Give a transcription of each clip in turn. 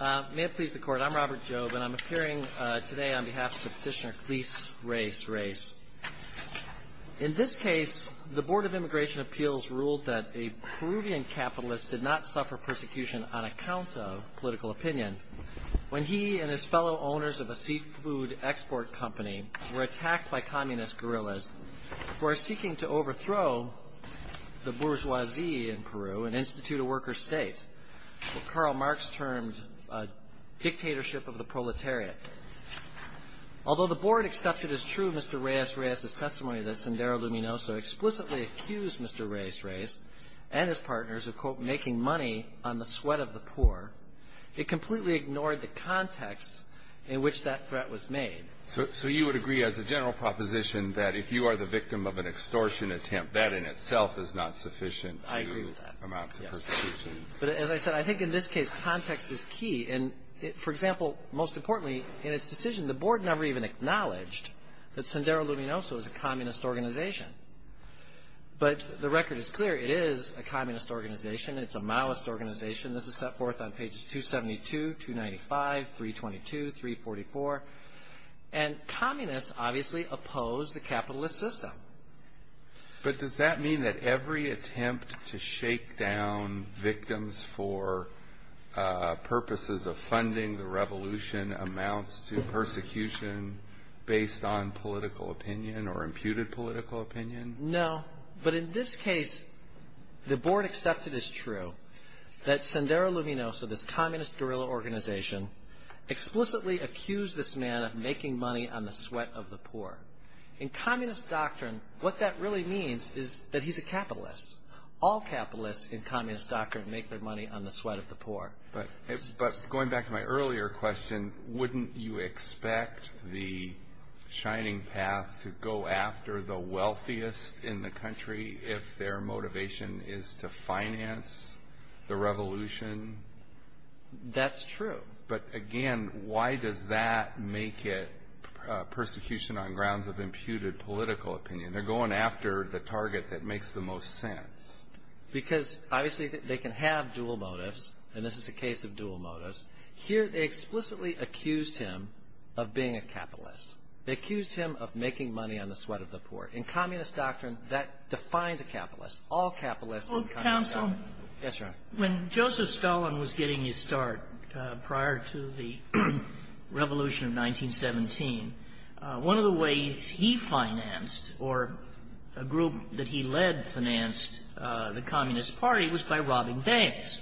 May it please the Court, I'm Robert Jobe, and I'm appearing today on behalf of the petitioner Cleis Reyes Reyes. In this case, the Board of Immigration Appeals ruled that a Peruvian capitalist did not suffer persecution on account of political opinion when he and his fellow owners of a seafood export company were attacked by communist guerrillas for seeking to overthrow the bourgeoisie in Peru, an institute of workers' state. What Karl Marx termed a dictatorship of the proletariat. Although the Board accepted as true Mr. Reyes Reyes' testimony that Sendero Luminoso explicitly accused Mr. Reyes Reyes and his partners of, quote, making money on the sweat of the poor, it completely ignored the context in which that threat was made. So you would agree as a general proposition that if you are the victim of an extortion attempt, that in itself is not sufficient to amount to persecution? But as I said, I think in this case context is key. And for example, most importantly, in its decision, the Board never even acknowledged that Sendero Luminoso is a communist organization. But the record is clear. It is a communist organization. It's a Maoist organization. This is set forth on pages 272, 295, 322, 344. And communists obviously oppose the capitalist system. But does that mean that every attempt to shake down victims for purposes of funding the revolution amounts to persecution based on political opinion or imputed political opinion? No. But in this case, the Board accepted as true that Sendero Luminoso, this communist guerrilla organization, explicitly accused this man of making money on the sweat of the poor. In communist doctrine, what that really means is that he's a capitalist. All capitalists in communist doctrine make their money on the sweat of the poor. But going back to my earlier question, wouldn't you expect the Shining Path to go after the wealthiest in the country if their motivation is to finance the revolution? That's true. But again, why does that make it persecution on grounds of imputed political opinion? They're going after the target that makes the most sense. Because obviously they can have dual motives, and this is a case of dual motives. Here they explicitly accused him of being a capitalist. They accused him of making money on the sweat of the poor. In communist doctrine, that defines a capitalist. Counsel. Yes, Your Honor. When Joseph Stalin was getting his start prior to the revolution of 1917, one of the ways he financed or a group that he led financed the Communist Party was by robbing banks.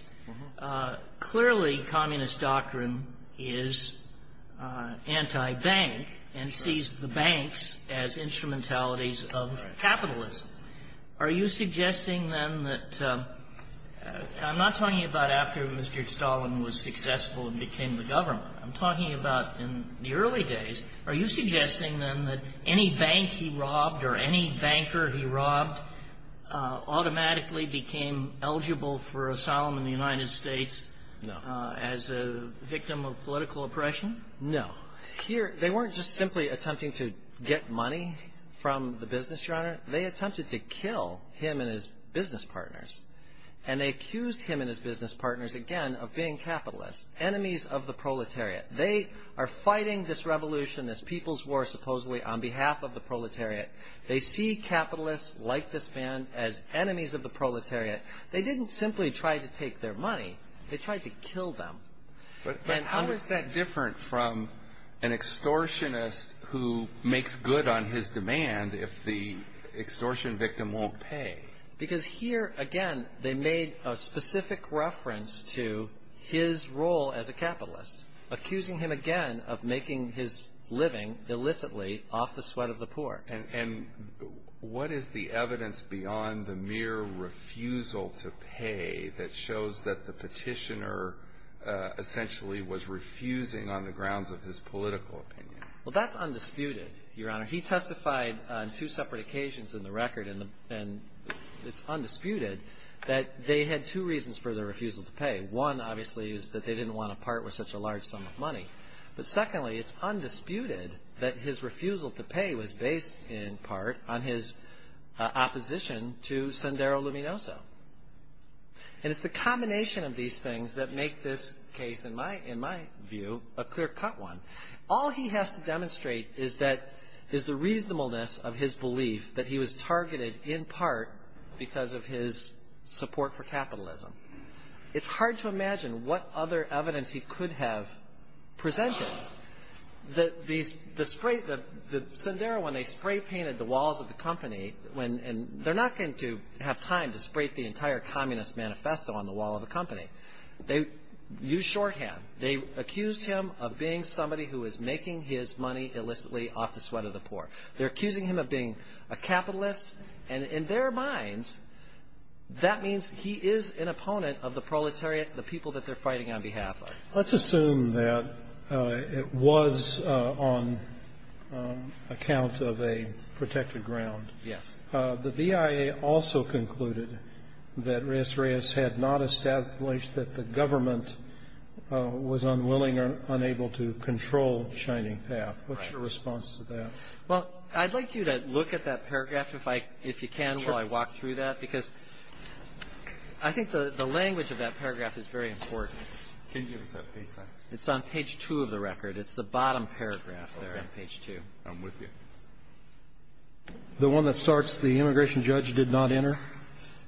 Clearly, communist doctrine is anti-bank and sees the banks as instrumentalities of capitalism. Are you suggesting, then, that — I'm not talking about after Mr. Stalin was successful and became the government. I'm talking about in the early days. Are you suggesting, then, that any bank he robbed or any banker he robbed automatically became eligible for asylum in the United States? No. As a victim of political oppression? No. Here, they weren't just simply attempting to get money from the business, Your Honor. They attempted to kill him and his business partners. And they accused him and his business partners, again, of being capitalists, enemies of the proletariat. They are fighting this revolution, this people's war, supposedly, on behalf of the proletariat. They see capitalists like this man as enemies of the proletariat. They didn't simply try to take their money. They tried to kill them. But how is that different from an extortionist who makes good on his demand if the extortion victim won't pay? Because here, again, they made a specific reference to his role as a capitalist, accusing him, again, of making his living illicitly off the sweat of the poor. And what is the evidence beyond the mere refusal to pay that shows that the petitioner essentially was refusing on the grounds of his political opinion? Well, that's undisputed, Your Honor. He testified on two separate occasions in the record, and it's undisputed that they had two reasons for their refusal to pay. One, obviously, is that they didn't want to part with such a large sum of money. But secondly, it's undisputed that his refusal to pay was based, in part, on his opposition to Sendero Luminoso. And it's the combination of these things that make this case, in my view, a clear-cut one. All he has to demonstrate is the reasonableness of his belief that he was targeted, in part, because of his support for capitalism. It's hard to imagine what other evidence he could have presented. The Sendero, when they spray-painted the walls of the company, and they're not going to have time to spray the entire Communist manifesto on the wall of the company. They used shorthand. They accused him of being somebody who was making his money illicitly off the sweat of the poor. They're accusing him of being a capitalist. And in their minds, that means he is an opponent of the proletariat, the people that they're fighting on behalf of. Let's assume that it was on account of a protected ground. Yes. The BIA also concluded that Reyes Reyes had not established that the government was unwilling or unable to control Shining Path. Right. What's your response to that? Well, I'd like you to look at that paragraph, if you can, while I walk through that. Sure. Because I think the language of that paragraph is very important. Can you give us that page, sir? It's on page 2 of the record. It's the bottom paragraph there on page 2. Okay. I'm with you. The one that starts, the immigration judge did not enter?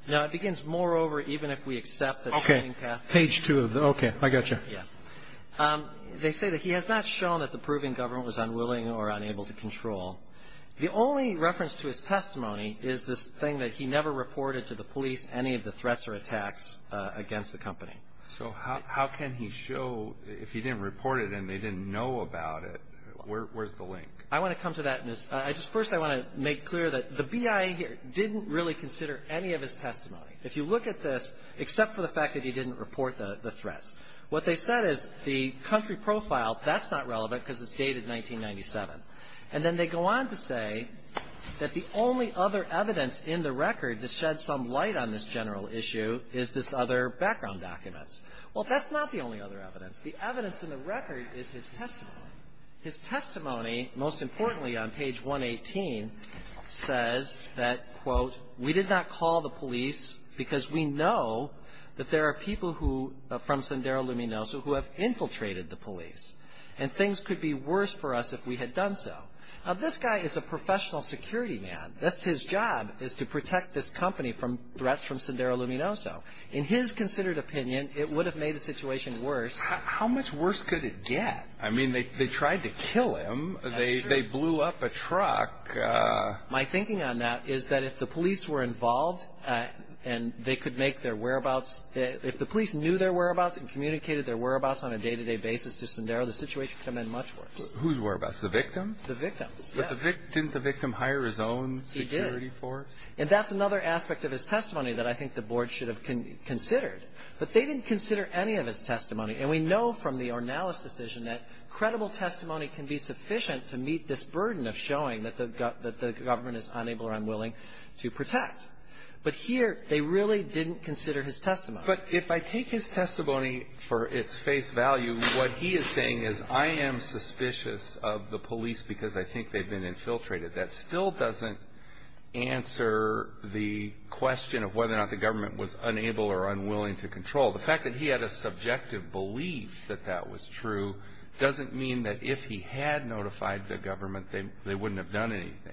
No. It begins, moreover, even if we accept that Shining Path. Okay. Page 2. Okay. I got you. Yeah. They say that he has not shown that the Peruvian government was unwilling or unable to control. The only reference to his testimony is this thing that he never reported to the police any of the threats or attacks against the company. So how can he show, if he didn't report it and they didn't know about it, where's the link? I want to come to that. First, I want to make clear that the BIA didn't really consider any of his testimony. If you look at this, except for the fact that he didn't report the threats, what they said is the country profile, that's not relevant because it's dated 1997. And then they go on to say that the only other evidence in the record to shed some light on this general issue is this other background documents. Well, that's not the only other evidence. The evidence in the record is his testimony. His testimony, most importantly, on page 118, says that, quote, we did not call the police because we know that there are people who, from Sendero Luminoso, who have infiltrated the police. And things could be worse for us if we had done so. Now, this guy is a professional security man. That's his job is to protect this company from threats from Sendero Luminoso. In his considered opinion, it would have made the situation worse. How much worse could it get? I mean, they tried to kill him. That's true. They blew up a truck. My thinking on that is that if the police were involved and they could make their whereabouts, if the police knew their whereabouts and communicated their whereabouts on a day-to-day basis to Sendero, the situation could have been much worse. Whose whereabouts? The victim? The victim, yes. Didn't the victim hire his own security force? He did. And that's another aspect of his testimony that I think the Board should have considered. But they didn't consider any of his testimony. And we know from the Ornelas decision that credible testimony can be sufficient to meet this burden of showing that the government is unable or unwilling to protect. But here, they really didn't consider his testimony. But if I take his testimony for its face value, what he is saying is I am suspicious of the police because I think they've been infiltrated. That still doesn't answer the question of whether or not the government was unable or unwilling to control. The fact that he had a subjective belief that that was true doesn't mean that if he had notified the government, they wouldn't have done anything.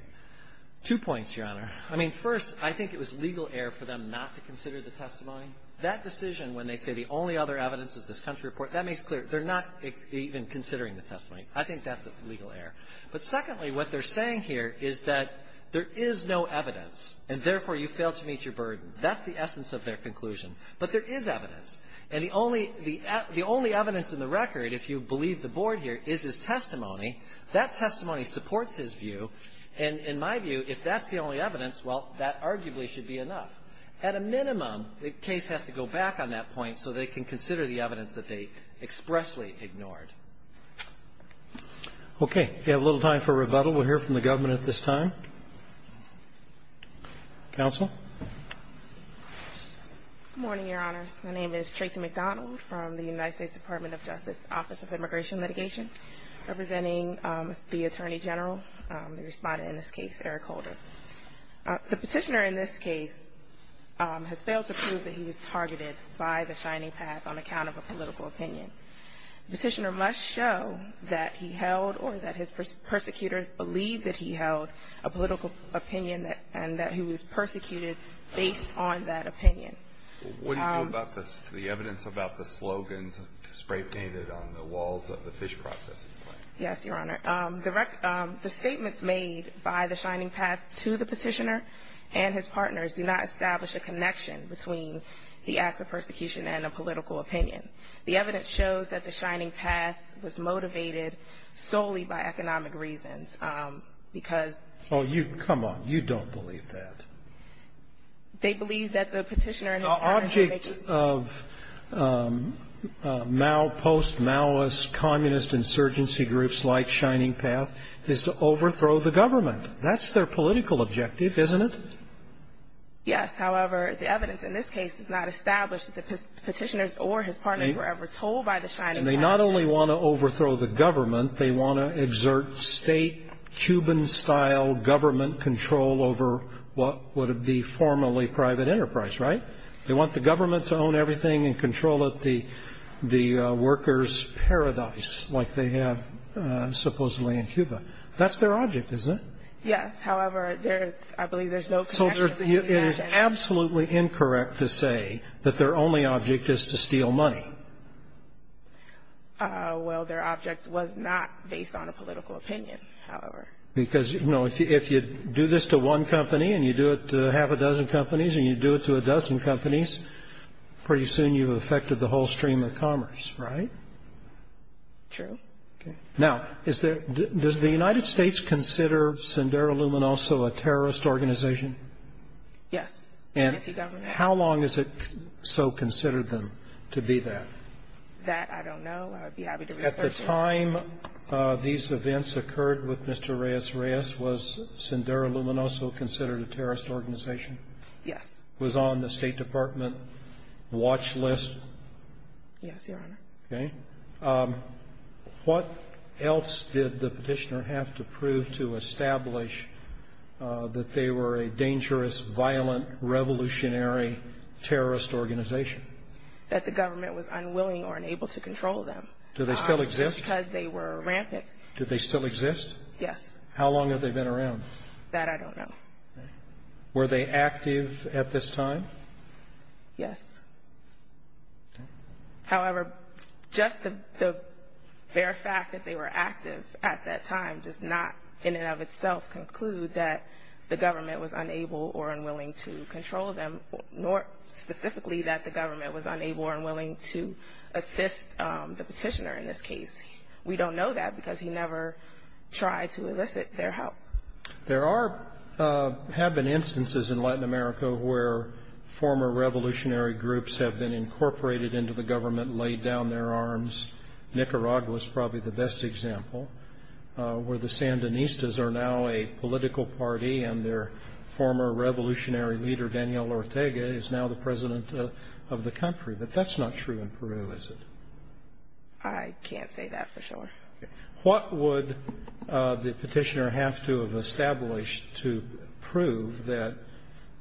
Two points, Your Honor. I mean, first, I think it was legal error for them not to consider the testimony. That decision when they say the only other evidence is this country report, that makes clear they're not even considering the testimony. I think that's a legal error. But secondly, what they're saying here is that there is no evidence, and therefore, you failed to meet your burden. That's the essence of their conclusion. But there is evidence. And the only evidence in the record, if you believe the Board here, is his testimony that testimony supports his view. And in my view, if that's the only evidence, well, that arguably should be enough. At a minimum, the case has to go back on that point so they can consider the evidence that they expressly ignored. We have a little time for rebuttal. We'll hear from the government at this time. Counsel? Good morning, Your Honor. My name is Tracy McDonald from the United States Department of Justice Office of Immigration and Immigration, representing the Attorney General, the respondent in this case, Eric Holder. The Petitioner in this case has failed to prove that he was targeted by the Shining Path on account of a political opinion. The Petitioner must show that he held or that his persecutors believed that he held a political opinion and that he was persecuted based on that opinion. What do you know about the evidence about the slogans spray painted on the walls of the fish processing plant? Yes, Your Honor. The statements made by the Shining Path to the Petitioner and his partners do not establish a connection between the acts of persecution and a political opinion. The evidence shows that the Shining Path was motivated solely by economic reasons because... Oh, come on. You don't believe that. They believe that the Petitioner and his partners... The object of Mao, post-Maoist, communist insurgency groups like Shining Path is to overthrow the government. That's their political objective, isn't it? Yes. However, the evidence in this case does not establish that the Petitioner or his partners were ever told by the Shining Path... And they not only want to overthrow the government, they want to exert state, Cuban-style government control over what would be formerly private enterprise, right? They want the government to own everything and control the workers' paradise like they have supposedly in Cuba. That's their object, isn't it? Yes. However, I believe there's no connection... So it is absolutely incorrect to say that their only object is to steal money. Well, their object was not based on a political opinion, however. Because, you know, if you do this to one company and you do it to half a dozen companies and you do it to a dozen companies, pretty soon you've affected the whole stream of commerce, right? True. Okay. Now, is there... Does the United States consider Sendero Luminoso a terrorist organization? Yes. And how long has it so considered them to be that? That, I don't know. I'd be happy to research it. At the time these events occurred with Mr. Reyes Reyes, was Sendero Luminoso considered a terrorist organization? Yes. Was on the State Department watch list? Yes, Your Honor. Okay. What else did the petitioner have to prove to establish that they were a dangerous, violent, revolutionary terrorist organization? That the government was unwilling or unable to control them. Do they still exist? Just because they were rampant. Do they still exist? Yes. How long have they been around? That, I don't know. Were they active at this time? Yes. Okay. However, just the bare fact that they were active at that time does not in and of itself conclude that the government was unable or unwilling to control them, nor specifically that the government was unable or unwilling to assist the petitioner in this case. We don't know that because he never tried to elicit their help. There have been instances in Latin America where former revolutionary groups have been incorporated into the government, laid down their arms. Nicaragua is probably the best example, where the Sandinistas are now a political party and their former revolutionary leader, Daniel Ortega, is now the president of the country. But that's not true in Peru, is it? I can't say that for sure. What would the petitioner have to have established to prove that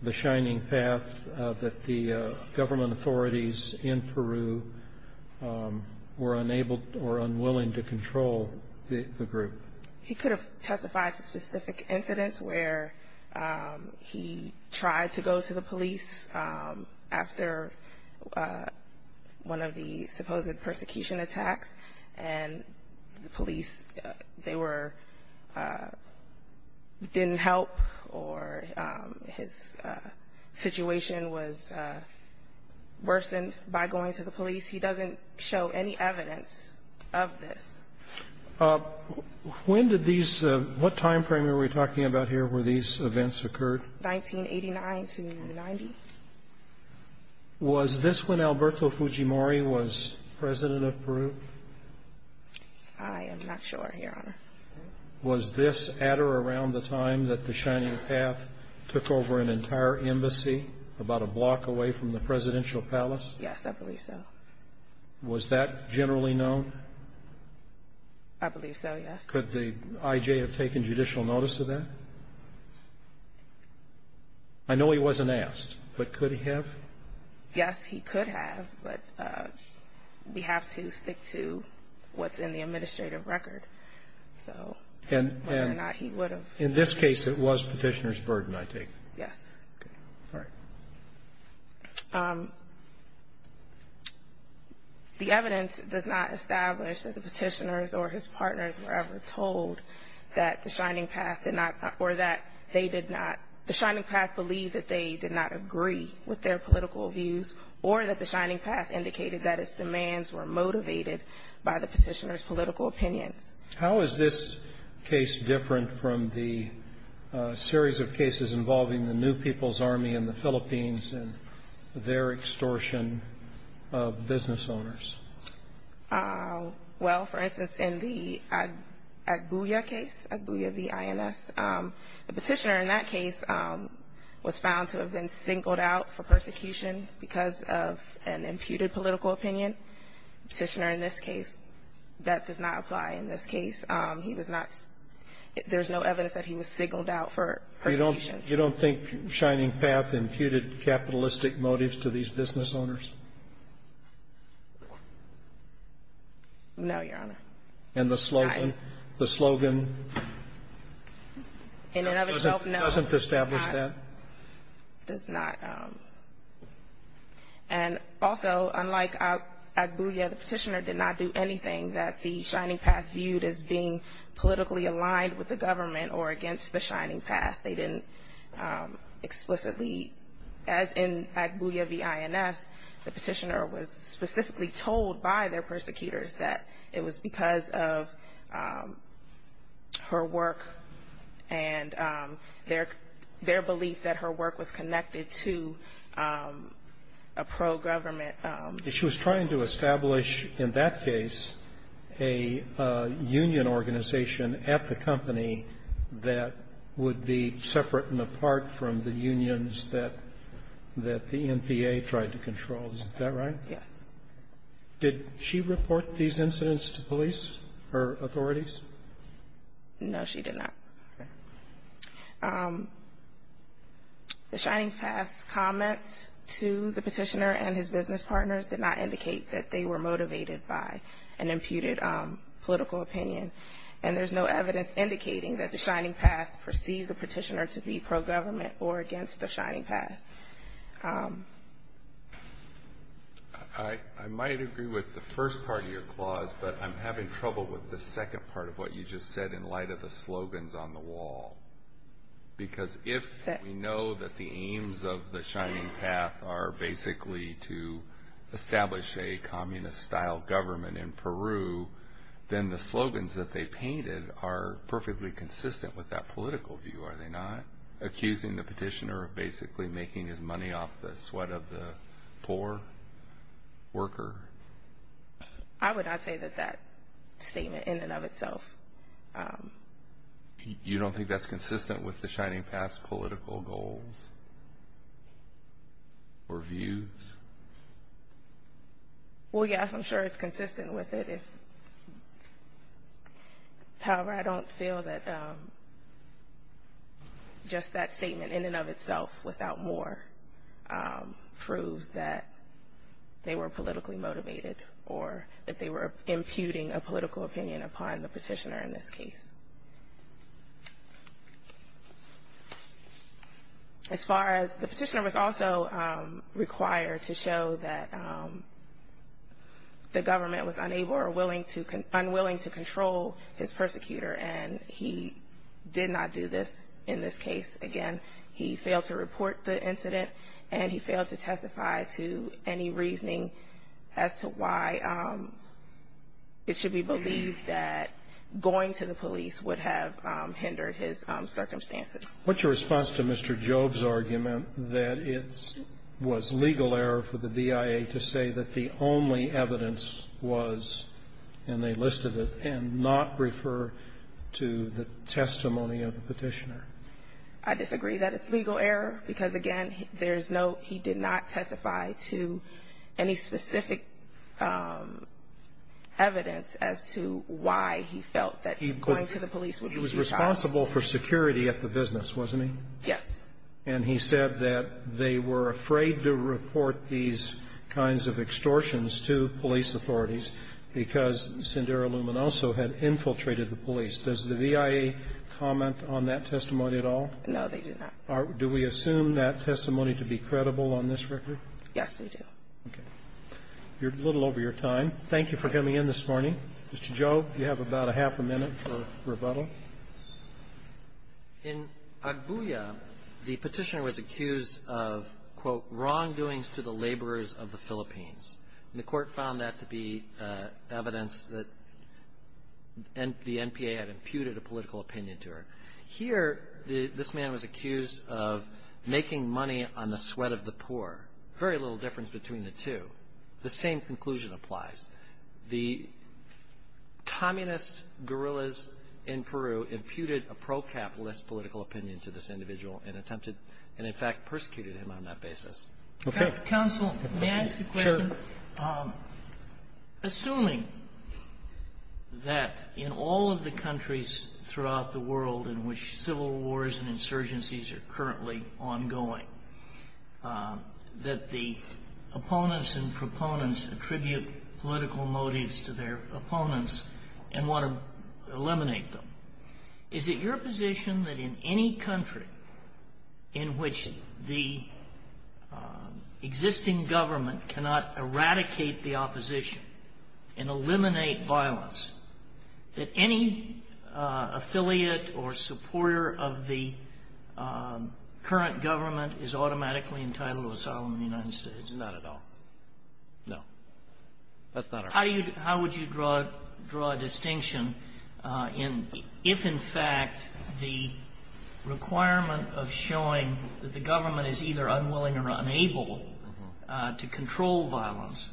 the shining path, that the government authorities in Peru were unable or unwilling to control the group? He could have testified to specific incidents where he tried to go to the police after one of the supposed persecution attacks, and the police, they were, didn't help, or his situation was worsened by going to the police. He doesn't show any evidence of this. When did these, what time frame are we talking about here where these events occurred? 1989 to 90. Was this when Alberto Fujimori was president of Peru? I am not sure, Your Honor. Was this at or around the time that the shining path took over an entire embassy, about a block away from the presidential palace? Yes, I believe so. Was that generally known? I believe so, yes. Could the I.J. have taken judicial notice of that? I know he wasn't asked, but could he have? Yes, he could have, but we have to stick to what's in the administrative record, so whether or not he would have. In this case, it was petitioner's burden, I take it. Yes. All right. The evidence does not establish that the petitioners or his partners were ever told that the shining path did not, or that they did not, the shining path believed that they did not agree with their political views, or that the shining path indicated that its demands were motivated by the petitioner's political opinions. How is this case different from the series of cases involving the New People's Army in the Philippines and their extortion of business owners? Well, for instance, in the Agbuya case, Agbuya v. INS, the petitioner in that case was found to have been singled out for persecution because of an imputed political opinion. Petitioner in this case, that does not apply in this case. He was not – there's no evidence that he was singled out for persecution. You don't think shining path imputed capitalistic motives to these business owners? No, Your Honor. And the slogan? And in other terms, no. Doesn't establish that? Does not. And also, unlike Agbuya, the petitioner did not do anything that the shining path viewed as being politically aligned with the government or against the shining path. They didn't explicitly, as in Agbuya v. INS, the petitioner was specifically told by their persecutors that it was because of her work and their belief that her work was connected to a pro-government. She was trying to establish, in that case, a union organization at the company that would be separate and apart from the unions that the NPA tried to control. Is that right? Yes. Did she report these incidents to police, her authorities? No, she did not. Okay. The shining path's comments to the petitioner and his business partners did not indicate that they were motivated by an imputed political opinion. And there's no evidence indicating that the shining path perceived the petitioner to be pro-government or against the shining path. I might agree with the first part of your clause, but I'm having trouble with the second part of what you just said in light of the slogans on the wall. Because if we know that the aims of the shining path are basically to establish a communist-style government in Peru, then the slogans that they painted are perfectly consistent with that political view, are they not? Accusing the petitioner of basically making his money off the sweat of the poor worker? I would not say that that statement in and of itself. You don't think that's consistent with the shining path's political goals or views? Well, yes, I'm sure it's consistent with it. However, I don't feel that just that statement in and of itself without more proves that they were politically motivated or that they were imputing a political opinion upon the petitioner in this case. As far as the petitioner was also required to show that the government was unable or unwilling to control his persecutor. And he did not do this in this case. Again, he failed to report the incident and he failed to testify to any reasoning as to why it should be believed that going to the police would have hindered his circumstances. What's your response to Mr. Job's argument that it was legal error for the DIA to say that the only evidence was, and they listed it, and not refer to the testimony of the petitioner? I disagree that it's legal error because, again, he did not testify to any specific evidence as to why he felt that going to the police would be too harsh. He was responsible for security at the business, wasn't he? Yes. And he said that they were afraid to report these kinds of extortions to police authorities because Sindera Lumanoso had infiltrated the police. Does the DIA comment on that testimony at all? No, they do not. Do we assume that testimony to be credible on this record? Yes, we do. Okay. You're a little over your time. Thank you for coming in this morning. Mr. Job, you have about a half a minute for rebuttal. In Agbuya, the petitioner was accused of, quote, wrongdoings to the laborers of the Philippines. And the Court found that to be evidence that the NPA had imputed a political opinion to her. Here, this man was accused of making money on the sweat of the poor. Very little difference between the two. The same conclusion applies. The communist guerrillas in Peru imputed a pro-capitalist political opinion to this individual and attempted and, in fact, persecuted him on that basis. Okay. Counsel, may I ask a question? Sure. Assuming that in all of the countries throughout the world in which civil wars and insurgencies are currently ongoing, that the opponents and proponents attribute political motives to their opponents and want to eliminate them, is it your position that in any country in which the existing government cannot eradicate the opposition and eliminate violence, that any affiliate or supporter of the current government is automatically entitled to asylum in the United States? Not at all. No. That's not our position. How would you draw a distinction if, in fact, the requirement of showing that the government is either unwilling or unable to control violence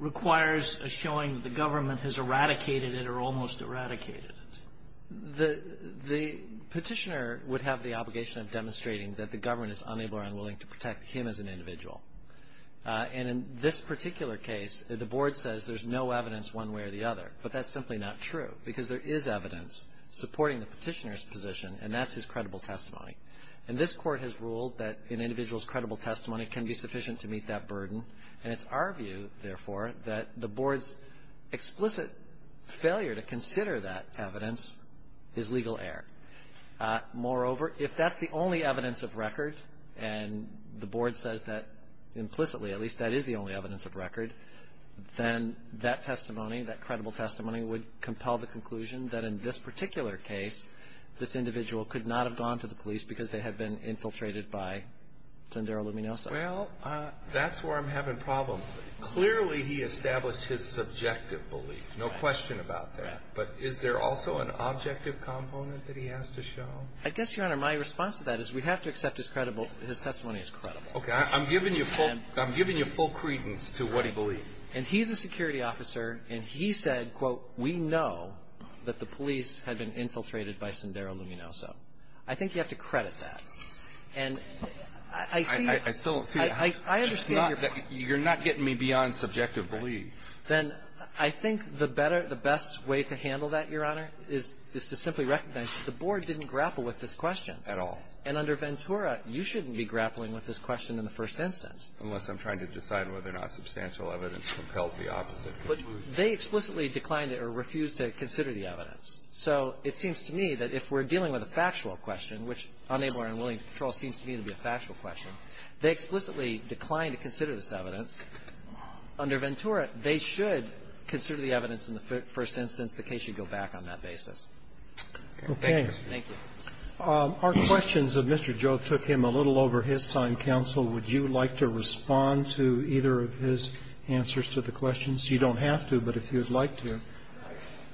requires a showing that the government has eradicated it or almost eradicated it? The petitioner would have the obligation of demonstrating that the government is unable or unwilling to protect him as an individual. And in this particular case, the Board says there's no evidence one way or the other, but that's simply not true because there is evidence supporting the petitioner's position, and that's his credible testimony. And this Court has ruled that an individual's credible testimony can be sufficient to meet that burden, and it's our view, therefore, that the Board's explicit failure to consider that evidence is legal error. Moreover, if that's the only evidence of record, and the Board says that implicitly, at least that is the only evidence of record, then that testimony, that credible testimony, would compel the conclusion that in this particular case, this individual could not have gone to the police because they had been infiltrated by Sendero Luminoso. Well, that's where I'm having problems. Clearly, he established his subjective belief. No question about that. Right. But is there also an objective component that he has to show? I guess, Your Honor, my response to that is we have to accept his testimony as credible. Okay. I'm giving you full credence to what he believed. And he's a security officer, and he said, quote, we know that the police had been infiltrated by Sendero Luminoso. I think you have to credit that. And I see that. I still don't see it. I understand your point. You're not getting me beyond subjective belief. Then I think the better, the best way to handle that, Your Honor, is to simply recognize that the Board didn't grapple with this question. At all. And under Ventura, you shouldn't be grappling with this question in the first instance. Unless I'm trying to decide whether or not substantial evidence compels the opposite. But they explicitly declined or refused to consider the evidence. So it seems to me that if we're dealing with a factual question, which unable or unwilling to control seems to me to be a factual question, they explicitly declined to consider this evidence. Under Ventura, they should consider the evidence in the first instance. The case should go back on that basis. Thank you. Our questions of Mr. Jove took him a little over his time, counsel. Would you like to respond to either of his answers to the questions? You don't have to, but if you'd like to.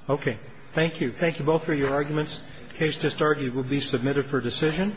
Okay. Thank you. Thank you both for your arguments. The case just argued will be submitted for decision.